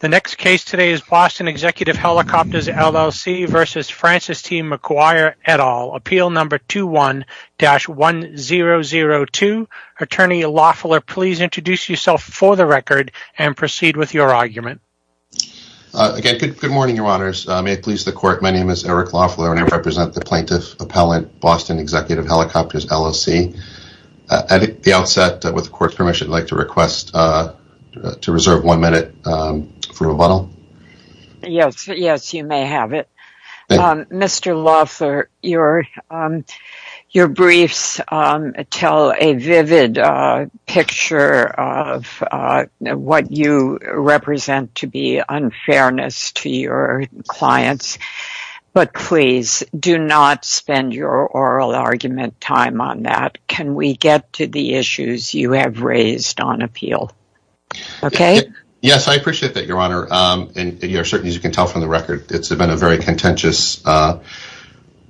The next case today is Boston Executive Helicopters, LLC v. Francis T. Maguire, et al., Appeal No. 21-1002. Attorney Loeffler, please introduce yourself for the record and proceed with your argument. Good morning, Your Honors. May it please the Court, my name is Eric Loeffler and I represent the Plaintiff Appellant, Boston Executive Helicopters, LLC. At the outset, with the Court's permission, I'd like to request to reserve one minute for rebuttal. Mr. Loeffler, your briefs tell a vivid picture of what you represent to be unfairness to your clients, but please do not spend your oral argument time on that. Can we get to the issues you have raised on appeal? Yes, I appreciate that, Your Honor. As you can tell from the record, it's been a very contentious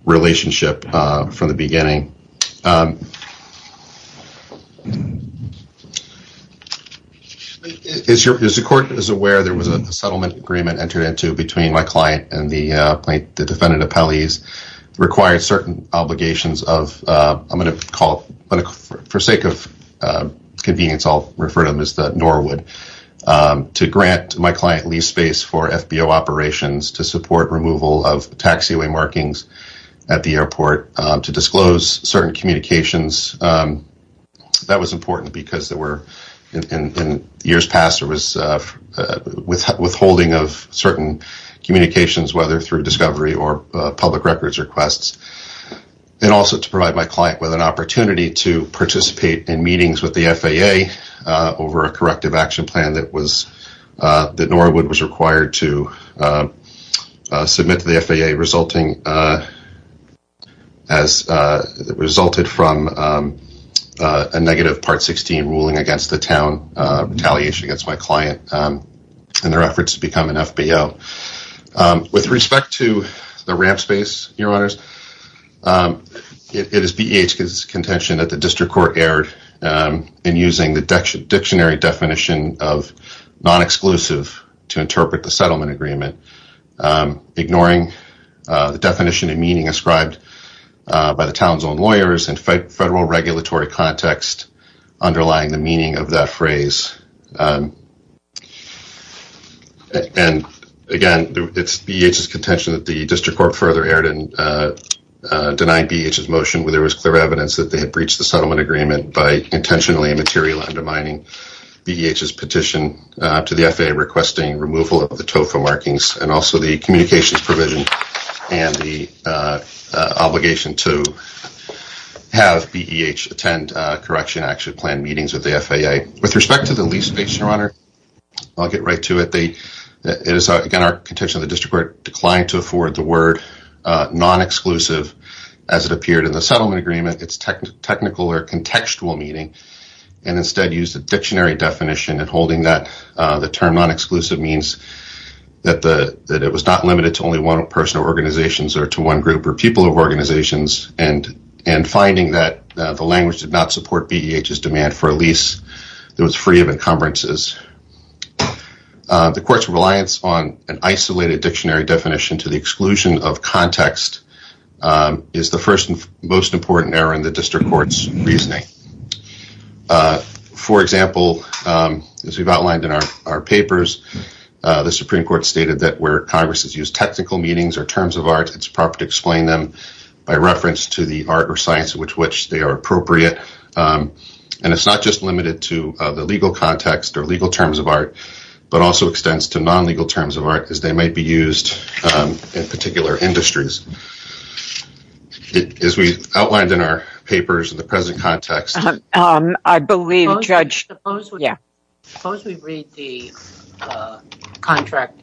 relationship from the beginning. As the Court is aware, there was a settlement agreement entered into between my client and the defendant appellees that required certain obligations of, for sake of convenience, I'll refer to them as the Norwood, to grant my client lease space for FBO operations to support removal of taxiway markings at the airport, to disclose certain communications. That was through discovery or public records requests. Also, to provide my client with an opportunity to participate in meetings with the FAA over a corrective action plan that Norwood was required to submit to the FAA, resulting from a negative Part 16 ruling against the town, retaliation against my client and their efforts to become an FBO. With respect to the ramp space, it is BEH's contention that the District Court erred in using the dictionary definition of non-exclusive to interpret the settlement agreement, ignoring the definition and meaning ascribed by the town's lawyers and federal regulatory context underlying the meaning of that phrase. Again, it's BEH's contention that the District Court further erred in denying BEH's motion where there was clear evidence that they had breached the settlement agreement by intentionally and materially undermining BEH's petition to the FAA requesting removal of the TOFA markings and the communications provision and the obligation to have BEH attend correction action plan meetings with the FAA. With respect to the lease space, Your Honor, I'll get right to it. It is, again, our contention that the District Court declined to afford the word non-exclusive as it appeared in the settlement agreement, its technical or contextual meaning, and instead used the limited to only one person or organizations or to one group or people of organizations and finding that the language did not support BEH's demand for a lease that was free of encumbrances. The Court's reliance on an isolated dictionary definition to the exclusion of context is the first and most important error in the District Court's reasoning. For example, as we've outlined in our papers, the Supreme Court stated that where Congress has used technical meanings or terms of art, it's proper to explain them by reference to the art or science with which they are appropriate. And it's not just limited to the legal context or legal terms of art but also extends to non-legal terms of art as they might be used in particular industries. As we outlined in our papers in the present context, I believe, Judge, yeah. Suppose we read the contract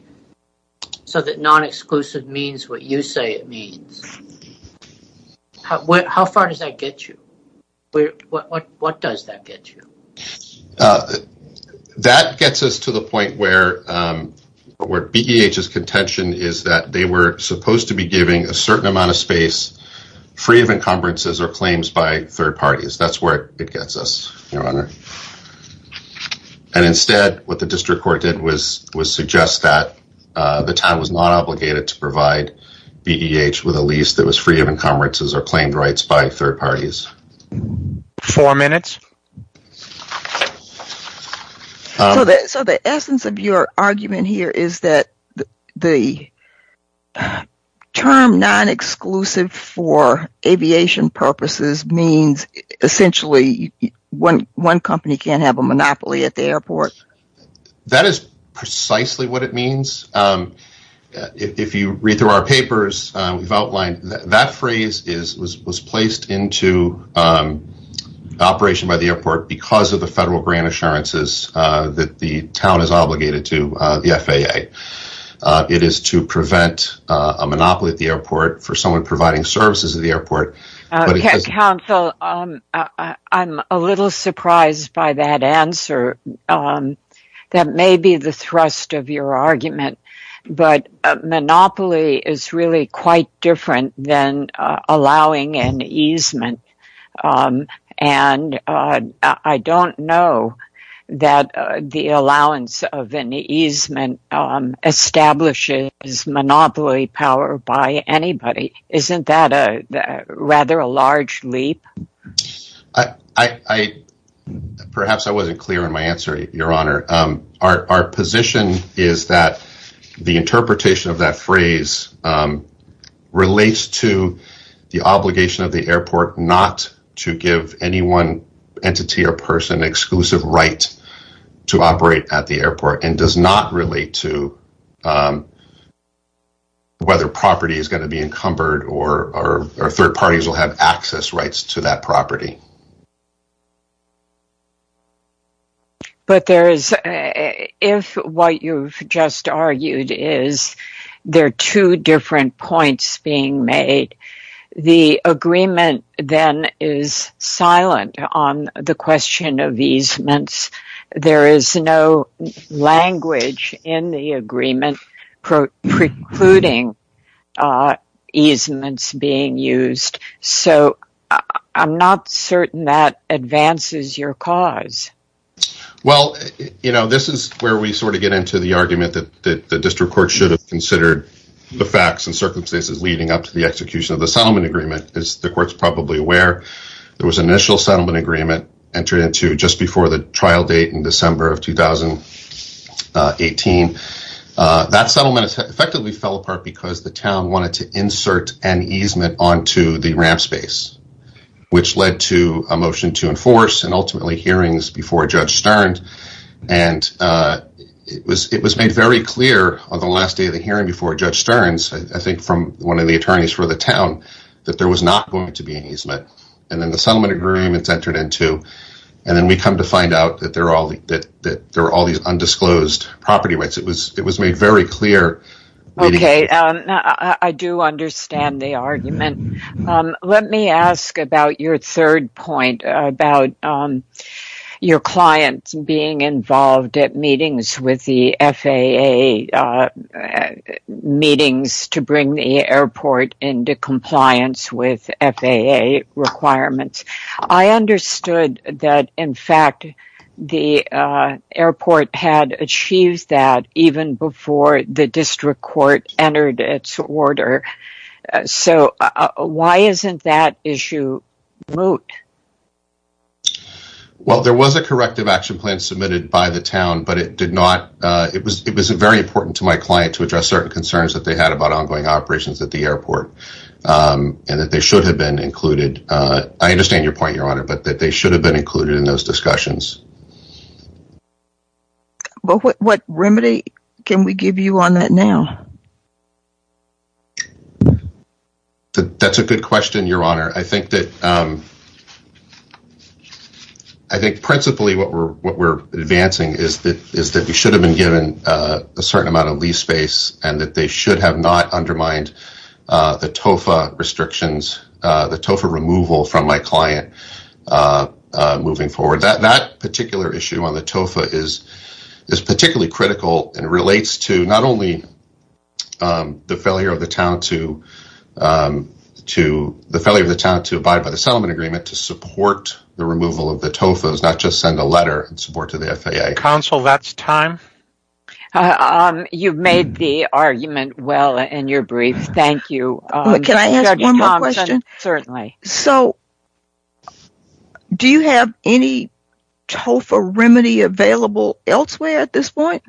so that non-exclusive means what you say it means. How far does that get you? What does that get you? That gets us to the point where BEH's contention is that they were supposed to be giving a certain amount of space free of encumbrances or claims by third parties. That's where it gets us, Your Honor. And instead, what the District Court did was suggest that the time was not obligated to provide BEH with a lease that was free of encumbrances or claimed rights by third parties. Four minutes. So the essence of your argument here is that the term non-exclusive for aviation purposes means essentially when one company can't have a monopoly at the airport. That is precisely what it means. If you read through our papers, we've outlined that phrase was placed into operation by the airport because of the federal grant assurances that the town is obligated to the FAA. It is to prevent a monopoly at the airport for someone providing services at the airport. Counsel, I'm a little surprised by that answer. That may be the thrust of your argument, but monopoly is really quite different than allowing an easement. And I don't know that the allowance of an easement establishes monopoly power by anybody. Isn't that rather a large leap? I perhaps I wasn't clear in my answer, Your Honor. Our position is that the interpretation of that phrase relates to the obligation of the airport not to give any one entity or person exclusive rights to operate at the airport and does not relate to whether property is going to be encumbered or third parties will have access rights to that property. But if what you've just argued is there are two different points being made, the agreement then is silent on the question of easements. There is no language in the agreement precluding easements being used. So I'm not certain that advances your cause. Well, this is where we sort of get into the argument that the district court should have considered the facts and circumstances leading up to the execution of the settlement agreement, as the court's probably aware. There was an initial settlement agreement entered into just 18. That settlement effectively fell apart because the town wanted to insert an easement onto the ramp space, which led to a motion to enforce and ultimately hearings before Judge Stearns. And it was made very clear on the last day of the hearing before Judge Stearns, I think from one of the attorneys for the town, that there was not going to be an easement. And then the settlement agreements entered into. And then we come to find out that there are all undisclosed property rights. It was made very clear. Okay. I do understand the argument. Let me ask about your third point about your clients being involved at meetings with the FAA, meetings to bring the airport into compliance with FAA requirements. I understood that, in fact, the airport had achieved that even before the district court entered its order. So why isn't that issue removed? Well, there was a corrective action plan submitted by the town, but it did not. It was very important to my client to address certain concerns that they had about ongoing operations at the airport. And that they should have been included. I understand your point, Your Honor, but that they should have been included in those discussions. But what remedy can we give you on that now? That's a good question, Your Honor. I think that principally what we're advancing is that we should have been given a certain amount of TOFA restrictions, the TOFA removal from my client moving forward. That particular issue on the TOFA is particularly critical and relates to not only the failure of the town to abide by the settlement agreement to support the removal of the TOFAs, not just send a letter in support to the FAA. Counsel, that's time. You've made the argument well in your brief. Thank you. Can I ask one more question? Certainly. So, do you have any TOFA remedy available elsewhere at this point?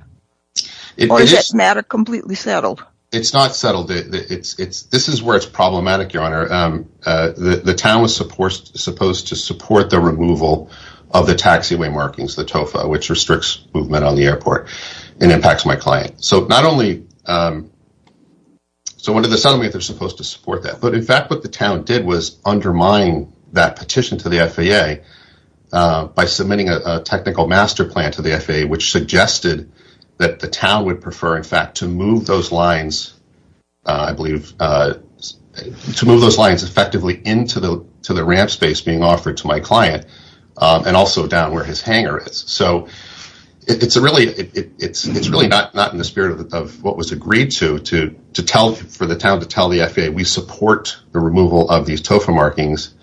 Or is that matter completely settled? It's not settled. This is where it's problematic, Your Honor. The town was supposed to support the and impacts my client. So, not only, so under the settlement, they're supposed to support that. But in fact, what the town did was undermine that petition to the FAA by submitting a technical master plan to the FAA, which suggested that the town would prefer, in fact, to move those lines, I believe, to move those lines effectively into the ramp space being offered to my client and also down where his hangar is. So, it's really not in the spirit of what was agreed to for the town to tell the FAA, we support the removal of these TOFA markings.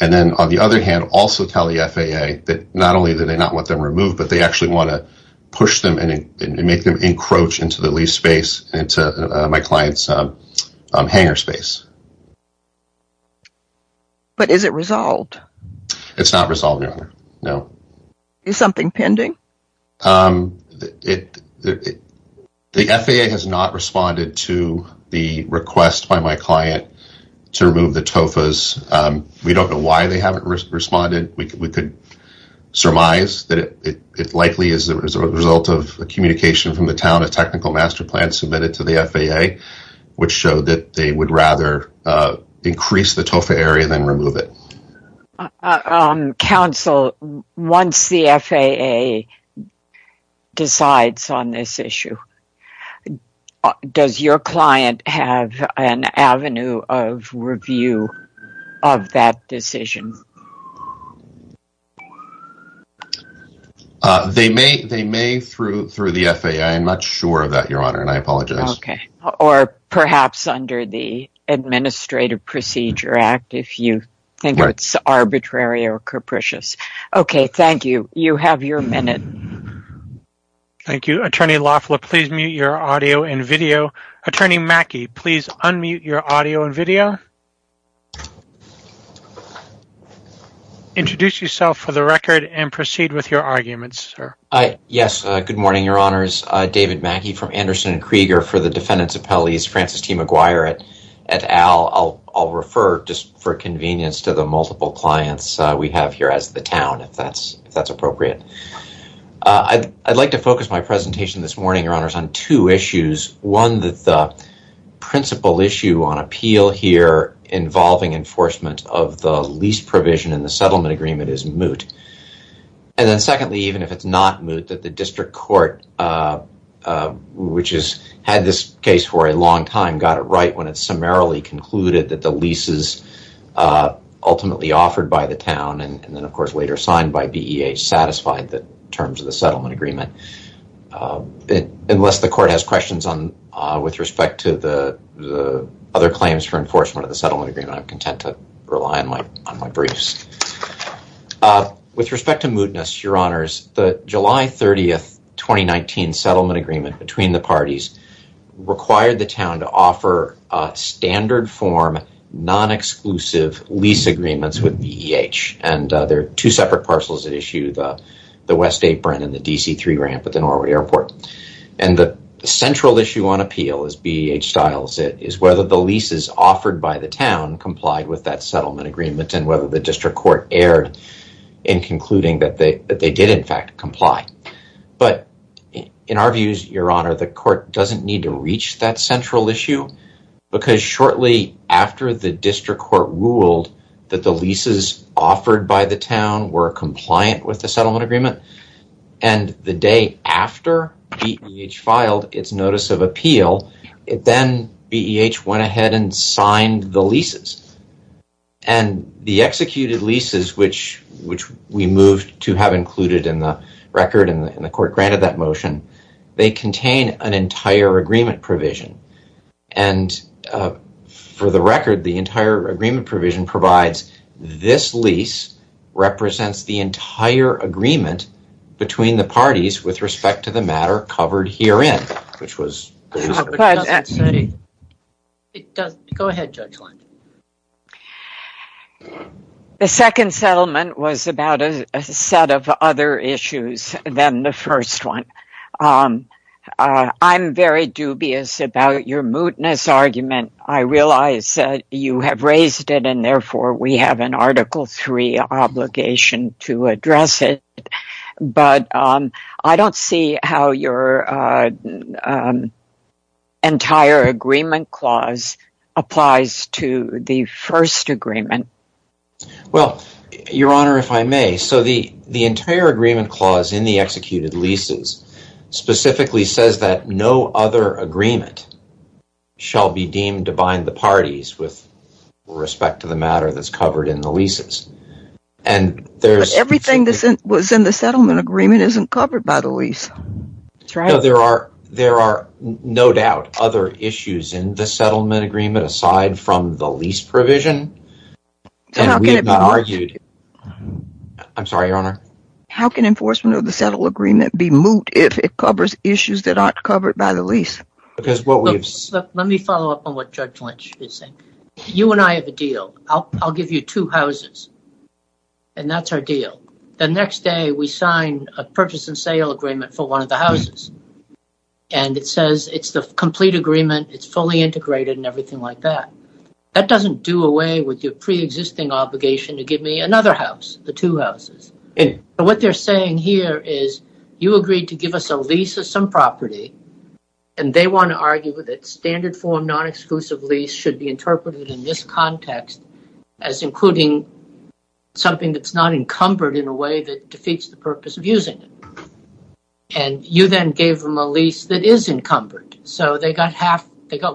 And then, on the other hand, also tell the FAA that not only do they not want them removed, but they actually want to push them and make them encroach into the lease space, into my client's hangar space. But is it resolved? It's not resolved, Your Honor. No. Is something pending? The FAA has not responded to the request by my client to remove the TOFAs. We don't know why they haven't responded. We could surmise that it likely is a result of a communication from the town, a technical master plan submitted to the FAA, which showed that they would rather increase the TOFA area than remove it. Counsel, once the FAA decides on this issue, does your client have an avenue of review of that decision? They may through the FAA. I'm not sure of that, Your Honor, and I apologize. Or perhaps under the Administrative Procedure Act, if you think it's arbitrary or capricious. Okay, thank you. You have your minute. Thank you. Attorney Lafleur, please mute your audio and video. Attorney Mackey, please unmute your audio and video. Introduce yourself for the record and proceed with your arguments, sir. Yes, good morning, Your Honors. David Mackey from Anderson and Krieger for the Defendants Appellees, Francis T. McGuire et al. I'll refer, just for convenience, to the multiple clients we have here as the town, if that's appropriate. I'd like to focus my presentation this morning, Your Honors, on two issues. One, the principal issue on appeal here involving enforcement of the lease provision in the settlement agreement is moot. And then secondly, even if it's not moot, that the district court, which has had this case for a long time, got it right when it summarily concluded that the leases ultimately offered by the town, and then of course later signed by BEA, satisfied the terms of the settlement agreement. Unless the court has questions with respect to the other claims for enforcement of the settlement agreement, I'm content to rely on my briefs. With respect to mootness, Your Honors, the July 30, 2019 settlement agreement between the parties required the town to offer a standard form, non-exclusive lease agreements with BEH. And there are two separate parcels that issue the West Apron and the DC-3 ramp at the Norwood Airport. And the central issue on appeal, as BEH styles it, is whether the leases offered by the town complied with that settlement agreement and whether the district court erred in concluding that they did in fact comply. But in our views, Your Honor, the court doesn't need to reach that central issue because shortly after the district court ruled that the leases offered by the town were compliant with the settlement agreement, and the day after BEH filed its notice of appeal, then BEH went ahead and signed the leases. And the executed leases which we moved to have included in the record and the court granted that motion, they contain an entire agreement provision. And for the record, the entire agreement between the parties with respect to the matter covered herein, which was... Go ahead, Judge Lange. The second settlement was about a set of other issues than the first one. I'm very dubious about your mootness argument. I realize that you have raised it and therefore we have an Article III obligation to address it, but I don't see how your entire agreement clause applies to the first agreement. Well, Your Honor, if I may, so the entire agreement clause in the executed leases specifically says that no other agreement shall be deemed to bind the parties with respect to the matter that's covered in the leases, and there's... Everything that was in the settlement agreement isn't covered by the lease. There are no doubt other issues in the settlement agreement aside from the lease provision, and we have not argued... I'm sorry, Your Honor. How can enforcement of the settlement agreement be moot if it covers issues that aren't covered by the lease? Because what we've... Let me follow up on what Judge Lange is saying. You and I have a deal. I'll give you two houses, and that's our deal. The next day, we sign a purchase and sale agreement for one of the houses, and it says it's the complete agreement. It's fully integrated and everything like that. That doesn't do away with your pre-existing obligation to give me another house, the two houses. What they're saying here is you agreed to give us a lease of some property, and they want to argue that standard form non-exclusive lease should be interpreted in this context as including something that's not encumbered in a way that defeats the purpose of using it. You then gave them a lease that is encumbered, so they got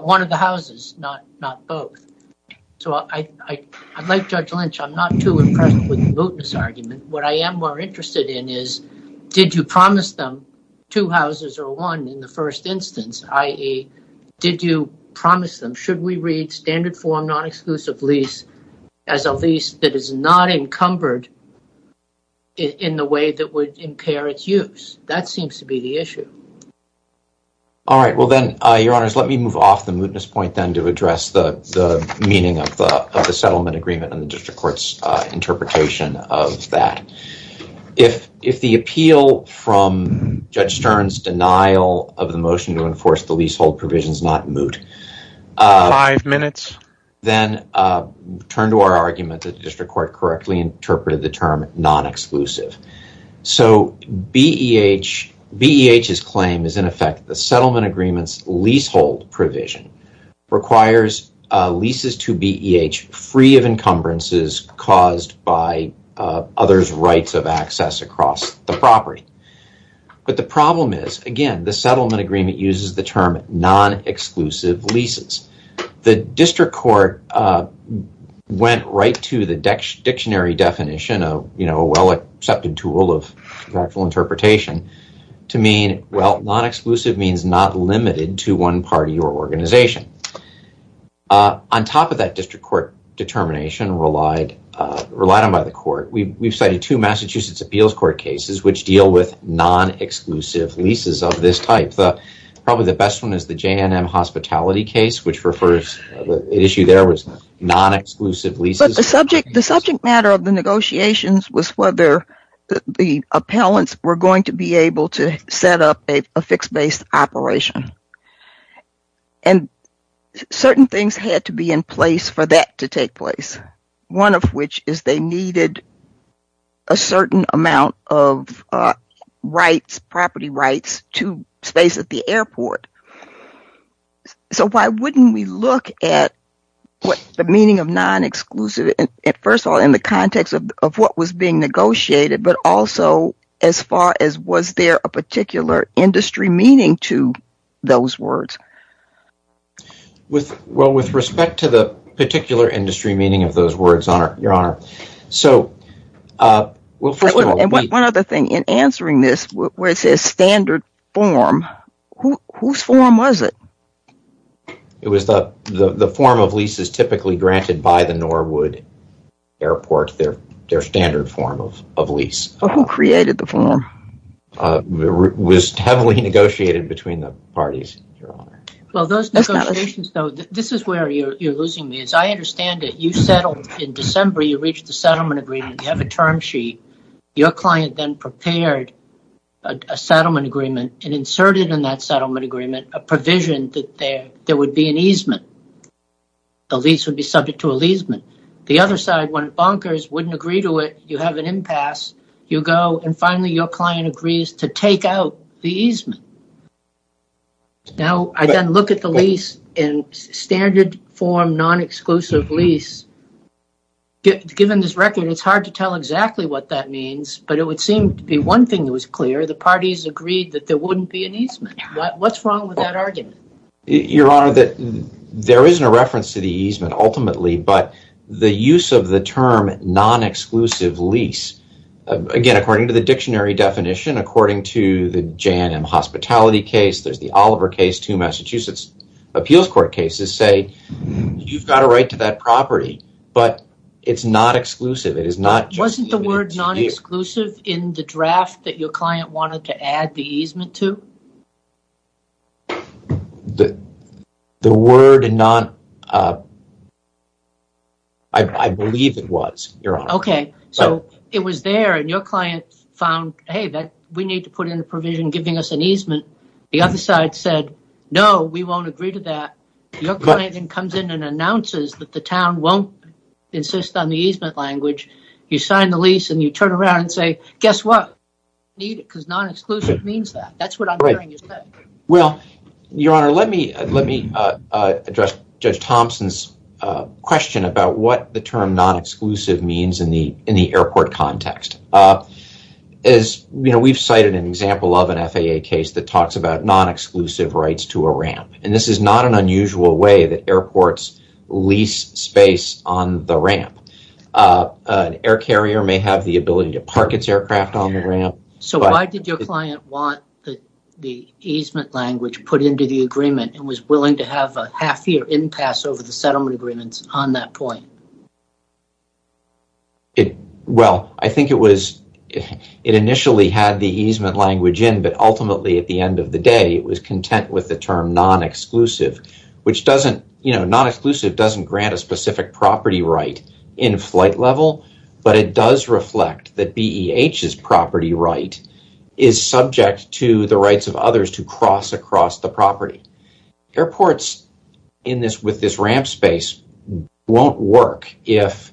one of the houses, not both. Like Judge Lynch, I'm not too impressed with the mootness argument. What I am more interested in is did you promise them two houses or one in the first instance, i.e., did you promise them, should we read standard form non-exclusive lease as a lease that is not encumbered in the way that would impair its use? That seems to be the issue. All right. Well then, Your Honors, let me move off the mootness point then to address the meaning of the settlement agreement and the district court's interpretation of that. If the appeal from Judge Stern's denial of the motion to enforce the leasehold provision is not moot, then turn to our argument that the district court correctly interpreted the term non-exclusive. So BEH's claim is, in effect, the settlement agreement's leasehold provision requires leases to BEH free of encumbrances caused by others' rights of access across the property. But the problem is, again, the settlement agreement uses the term non-exclusive leases. The district court went right to the dictionary definition, a well-accepted tool of practical interpretation, to mean, well, non-exclusive means not limited to one party or organization. On top of that district court determination relied on by the court, we've cited two Massachusetts appeals court cases which deal with non-exclusive leases of this type. Probably the best one is the J&M hospitality case, which refers, the issue there was non-exclusive leases. But the subject matter of the negotiations was whether the appellants were going to be able to certain things had to be in place for that to take place. One of which is they needed a certain amount of rights, property rights, to space at the airport. So why wouldn't we look at what the meaning of non-exclusive, and first of all in the context of what was being negotiated, but also as far as was there a particular industry meaning to those words? Well, with respect to the particular industry meaning of those words, Your Honor. One other thing, in answering this, where it says standard form, whose form was it? It was the form of leases typically granted by the Norwood Airport, their standard form of lease. Who created the form? It was heavily negotiated between the parties, Your Honor. Well, those negotiations though, this is where you're losing me. As I understand it, you settled in December, you reached the settlement agreement, you have a term sheet, your client then prepared a settlement agreement and inserted in that settlement agreement a provision that there would be an easement. The lease would be subject to a leasement. The other side, when it bonkers, wouldn't agree to it, you have an impasse, you go and finally your client agrees to take out the easement. Now, I then look at the lease in standard form, non-exclusive lease. Given this record, it's hard to tell exactly what that means, but it would seem to be one thing that was clear, the parties agreed that there wouldn't be an easement. What's wrong with that argument? Your Honor, there isn't a reference to the easement ultimately, but the use of the term non-exclusive lease. Again, according to the dictionary definition, according to the J&M hospitality case, there's the Oliver case, two Massachusetts appeals court cases say, you've got a right to that property, but it's not exclusive. It is not. Wasn't the word non-exclusive in the draft that your client wanted to add the easement to? The word non-exclusive, I believe it was, Your Honor. Okay, so it was there and your client found, hey, we need to put in a provision giving us an easement. The other side said, no, we won't agree to that. Your client then comes in and announces that the town won't insist on the easement language. You sign the lease and you turn around and say, guess what? We don't need it because non-exclusive means that. That's what I'm hearing. Well, Your Honor, let me address Judge Thompson's question about what the term non-exclusive means in the airport context. We've cited an example of an FAA case that talks about non-exclusive rights to a ramp. This is not an unusual way that airports lease space on the ramp. An air carrier may have the ability to park its aircraft on the ramp. So why did your client want the easement language put into the agreement and was willing to have a half-year impasse over the settlement agreements on that point? Well, I think it initially had the easement language in, but ultimately at the end of the day, it was content with the term non-exclusive. Non-exclusive doesn't grant a specific property right in a flight level, but it does reflect that BEH's property right is subject to the rights of others to cross across the property. Airports with this ramp space won't work if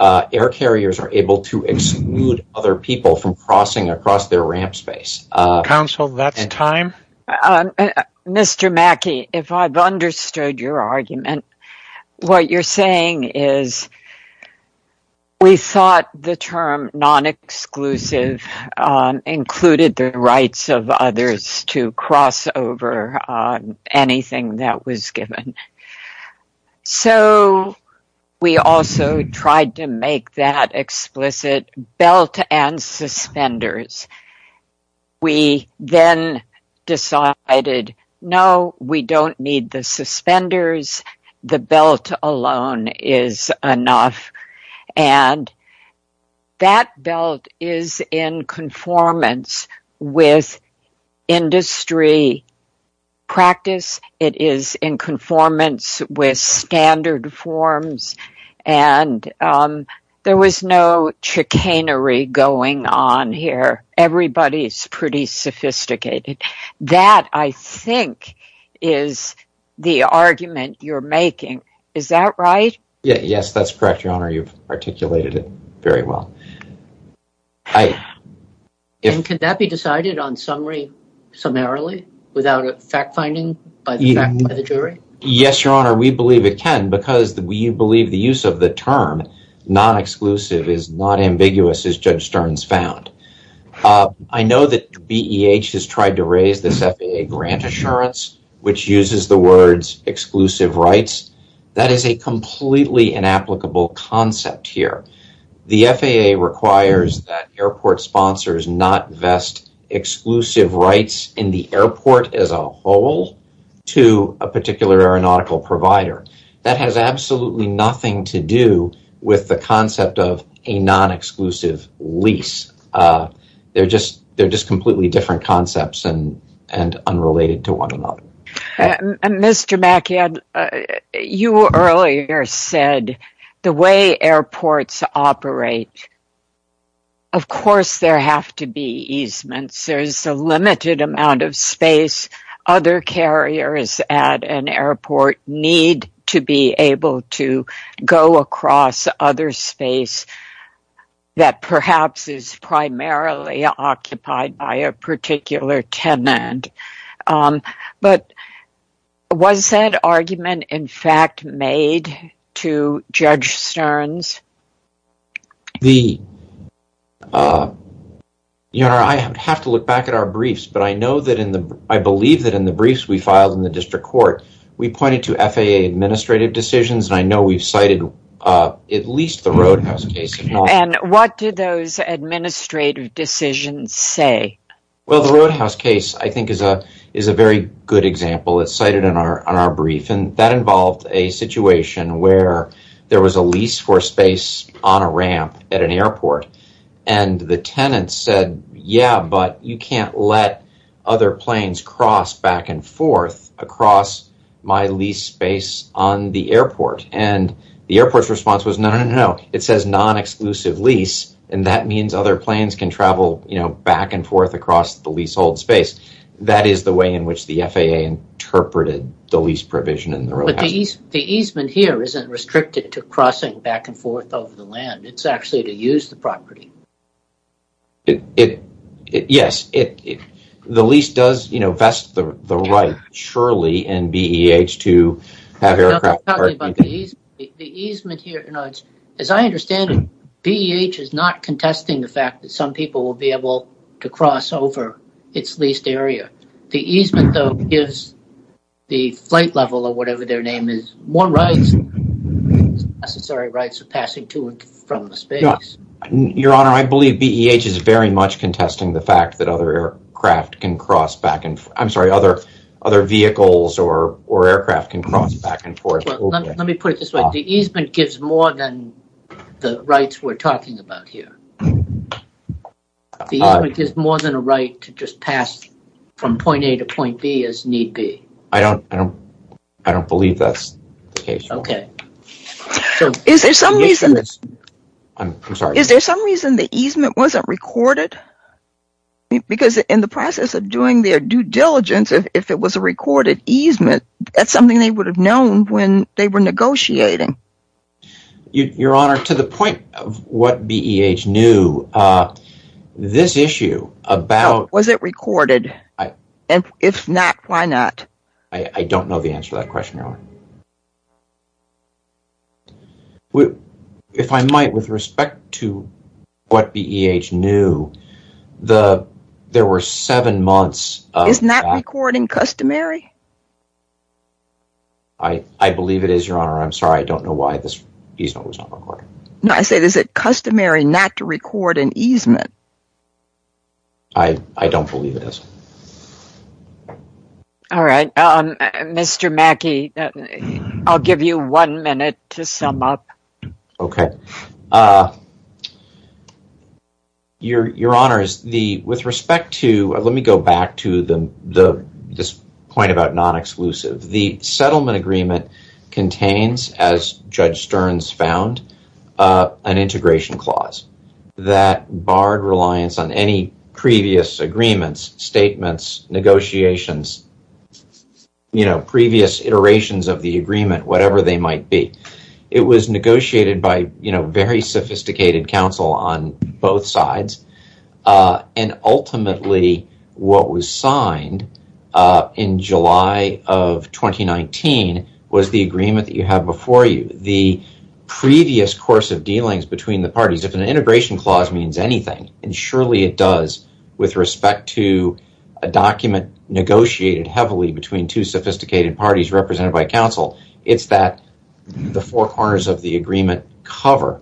air carriers are able to exclude other people from crossing across their ramp space. Counsel, that's time. Mr. Mackey, if I've understood your argument, what you're saying is we thought the term non-exclusive included the rights of others to cross over anything that was given. So we also tried to make that explicit belt and suspenders. We then decided, no, we don't need the suspenders. The belt alone is enough. And that belt is in conformance with industry practice. It is in conformance with standard forms. And there was no chicanery going on here. Everybody's pretty sophisticated. That, I think, is the argument you're making. Is that right? Yes, that's correct, Your Honor. You've articulated it very well. Can that be decided on summary, summarily, without fact-finding by the jury? Yes, Your Honor, we believe it can because we believe the use of the term non-exclusive is not ambiguous, as Judge Stearns found. I know that BEH has tried to raise this FAA grant assurance which uses the words exclusive rights. That is a completely inapplicable concept here. The FAA requires that airport sponsors not vest exclusive rights in the airport as a whole to a particular aeronautical provider. That has absolutely nothing to do with the concept of a non-exclusive lease. They're just completely different concepts and unrelated to one another. Mr. Mackey, you earlier said the way airports operate, of course there have to be easements. There's a limited amount of space. Other carriers at an airport need to be able to go across other space that perhaps is primarily occupied by a particular tenant. Was that argument, in fact, made to Judge Stearns? Your Honor, I have to look back at our briefs. I believe that in the briefs we filed in the Roadhouse case, it cited a situation where there was a lease for space on a ramp at an airport. The tenant said, yeah, but you can't let other planes cross back and forth across my lease space on the airport. The airport's response was, no, no, no. It says non-exclusive lease, and that means other planes can travel back and forth across the leasehold space. That is the way in which the FAA interpreted the lease provision in the Roadhouse case. The easement here isn't restricted to crossing back and forth over the land. It's actually to ease. The easement here, as I understand it, BEH is not contesting the fact that some people will be able to cross over its leased area. The easement, though, gives the flight level or whatever their name is more rights, necessary rights of passing to and from the space. Your Honor, I believe BEH is very much contesting the fact that other aircraft can cross back and forth. Let me put it this way. The easement gives more than the rights we're talking about here. The easement gives more than a right to just pass from point A to point B as need be. I don't believe that's the case. Okay. Is there some reason the easement wasn't recorded? Because in the process of doing their diligence, if it was a recorded easement, that's something they would have known when they were negotiating. Your Honor, to the point of what BEH knew, this issue about... Was it recorded? If not, why not? I don't know the answer to that question, Your Honor. Well, if I might, with respect to what BEH knew, there were seven months of... Isn't that recording customary? I believe it is, Your Honor. I'm sorry, I don't know why this easement was not recorded. No, I said, is it customary not to record an easement? I don't believe it is. All right. Mr. Mackey, I'll give you one minute to sum up. Okay. Your Honor, with respect to... Let me go back to this point about non-exclusive. The settlement agreement contains, as Judge Stearns found, an integration clause that barred on any previous agreements, statements, negotiations, previous iterations of the agreement, whatever they might be. It was negotiated by very sophisticated counsel on both sides, and ultimately what was signed in July of 2019 was the agreement that you have before you. The previous course of dealings between the parties, if an integration clause means anything, and surely it does with respect to a document negotiated heavily between two sophisticated parties represented by counsel, it's that the four corners of the agreement cover.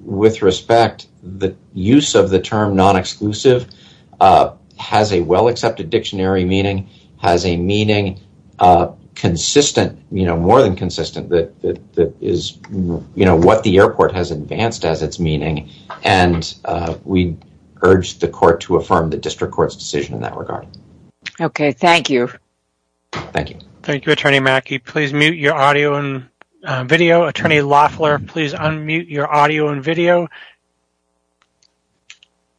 With respect, the use of the term non-exclusive has a well-accepted dictionary meaning, has a meaning consistent, more than consistent, that is what the airport has advanced as its meaning, and we urge the court to affirm the district court's decision in that regard. Okay. Thank you. Thank you. Thank you, Attorney Mackey. Please mute your audio and video. Attorney Loeffler, please unmute your audio and video.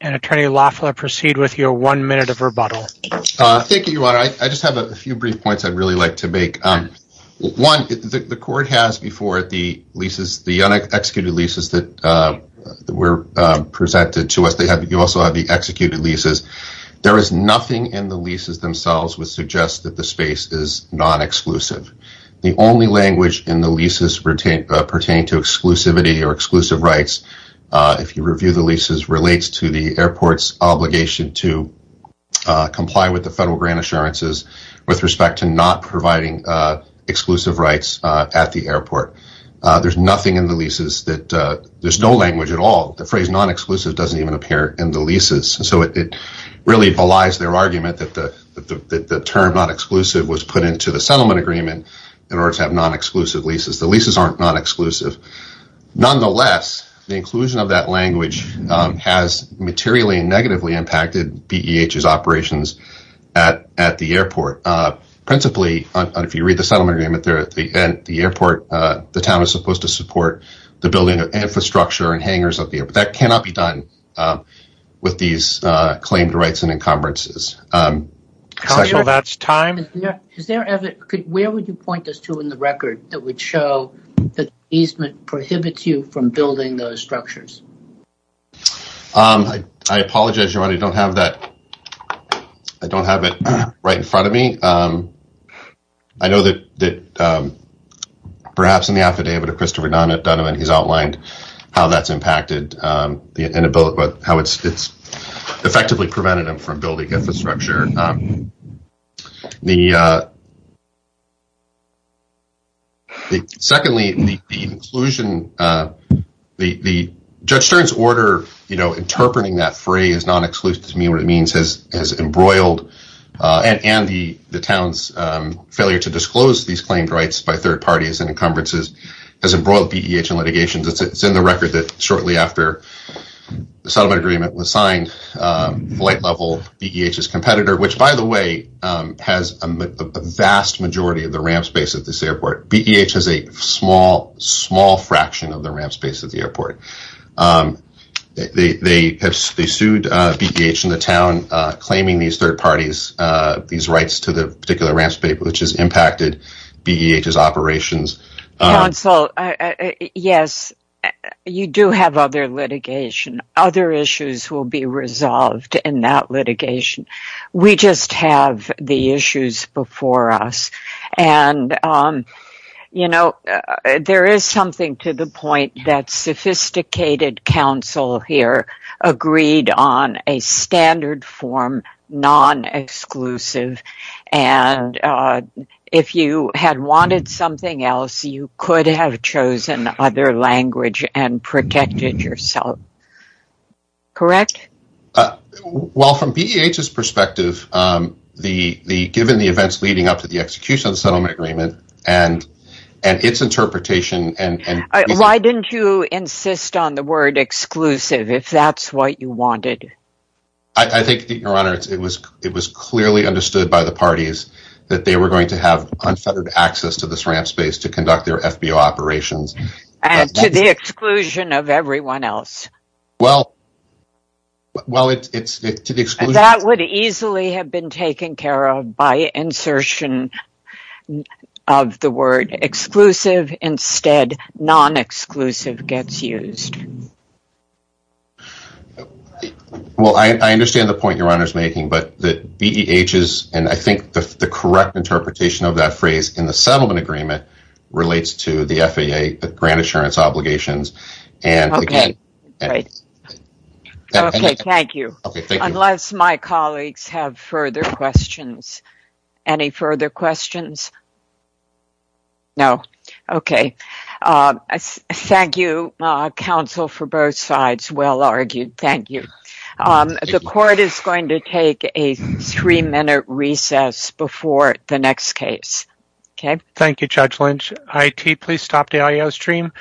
And Attorney Loeffler, proceed with your one minute of rebuttal. Thank you, Your Honor. I just have a few brief points I'd really like to make. One, the court has before it the un-executed leases that were presented to us. You also have the executed leases. There is nothing in the leases themselves which suggests that the space is non-exclusive. The only language in the leases pertaining to exclusivity or exclusive rights, if you review the leases, relates to the airport's obligation to exclusive rights at the airport. There's nothing in the leases that there's no language at all. The phrase non-exclusive doesn't even appear in the leases, so it really belies their argument that the term non-exclusive was put into the settlement agreement in order to have non-exclusive leases. The leases aren't non-exclusive. Nonetheless, the inclusion of that language has materially and negatively impacted BEH's operations at the airport. Principally, if you read the settlement agreement there at the end, the town is supposed to support the building of infrastructure and hangars at the airport. That cannot be done with these claimed rights and encumbrances. Counsel, that's time. Where would you point us to in the record that would show that the easement prohibits you from building those structures? I apologize, Your Honor. I don't have it right in front of me. I know that perhaps in the affidavit of Christopher Dunneman, he's outlined how that's impacted and how it's effectively prevented him from building infrastructure. Secondly, the inclusion, Judge Stern's order interpreting that phrase non-exclusive, has embroiled and the town's failure to disclose these claimed rights by third parties and encumbrances has embroiled BEH in litigation. It's in the record that shortly after the settlement agreement was signed, flight level BEH's competitor, which by the way, has a vast majority of the ramp space at this airport. BEH has a small, small fraction of ramp space at the airport. They sued BEH in the town, claiming these third parties, these rights to the particular ramp space, which has impacted BEH's operations. Counsel, yes, you do have other litigation. Other issues will be resolved in that litigation. We just have the issues before us. And, you know, there is something to the point that sophisticated counsel here agreed on a standard form, non-exclusive. And if you had wanted something else, you could have chosen other language and protected yourself. Correct? Uh, well, from BEH's perspective, um, the, the, given the events leading up to the execution of the settlement agreement and, and its interpretation. And why didn't you insist on the word exclusive if that's what you wanted? I think that your honor, it was, it was clearly understood by the parties that they were going to have unfettered access to this ramp space to conduct their FBO operations. And to the exclusion of everyone else. Well, well, it's, it's to the exclusion. That would easily have been taken care of by insertion of the word exclusive instead, non-exclusive gets used. Well, I understand the point your honor's making, but the BEH's, and I think the correct interpretation of that phrase in the settlement agreement relates to the FAA grant insurance obligations. Okay. Okay. Thank you. Unless my colleagues have further questions, any further questions? No. Okay. Um, thank you, uh, counsel for both sides. Well argued. Thank you. Um, the court is going to take a three minute recess before the next case. Okay. Thank you, Judge Lynch. IT, please stop the audio stream.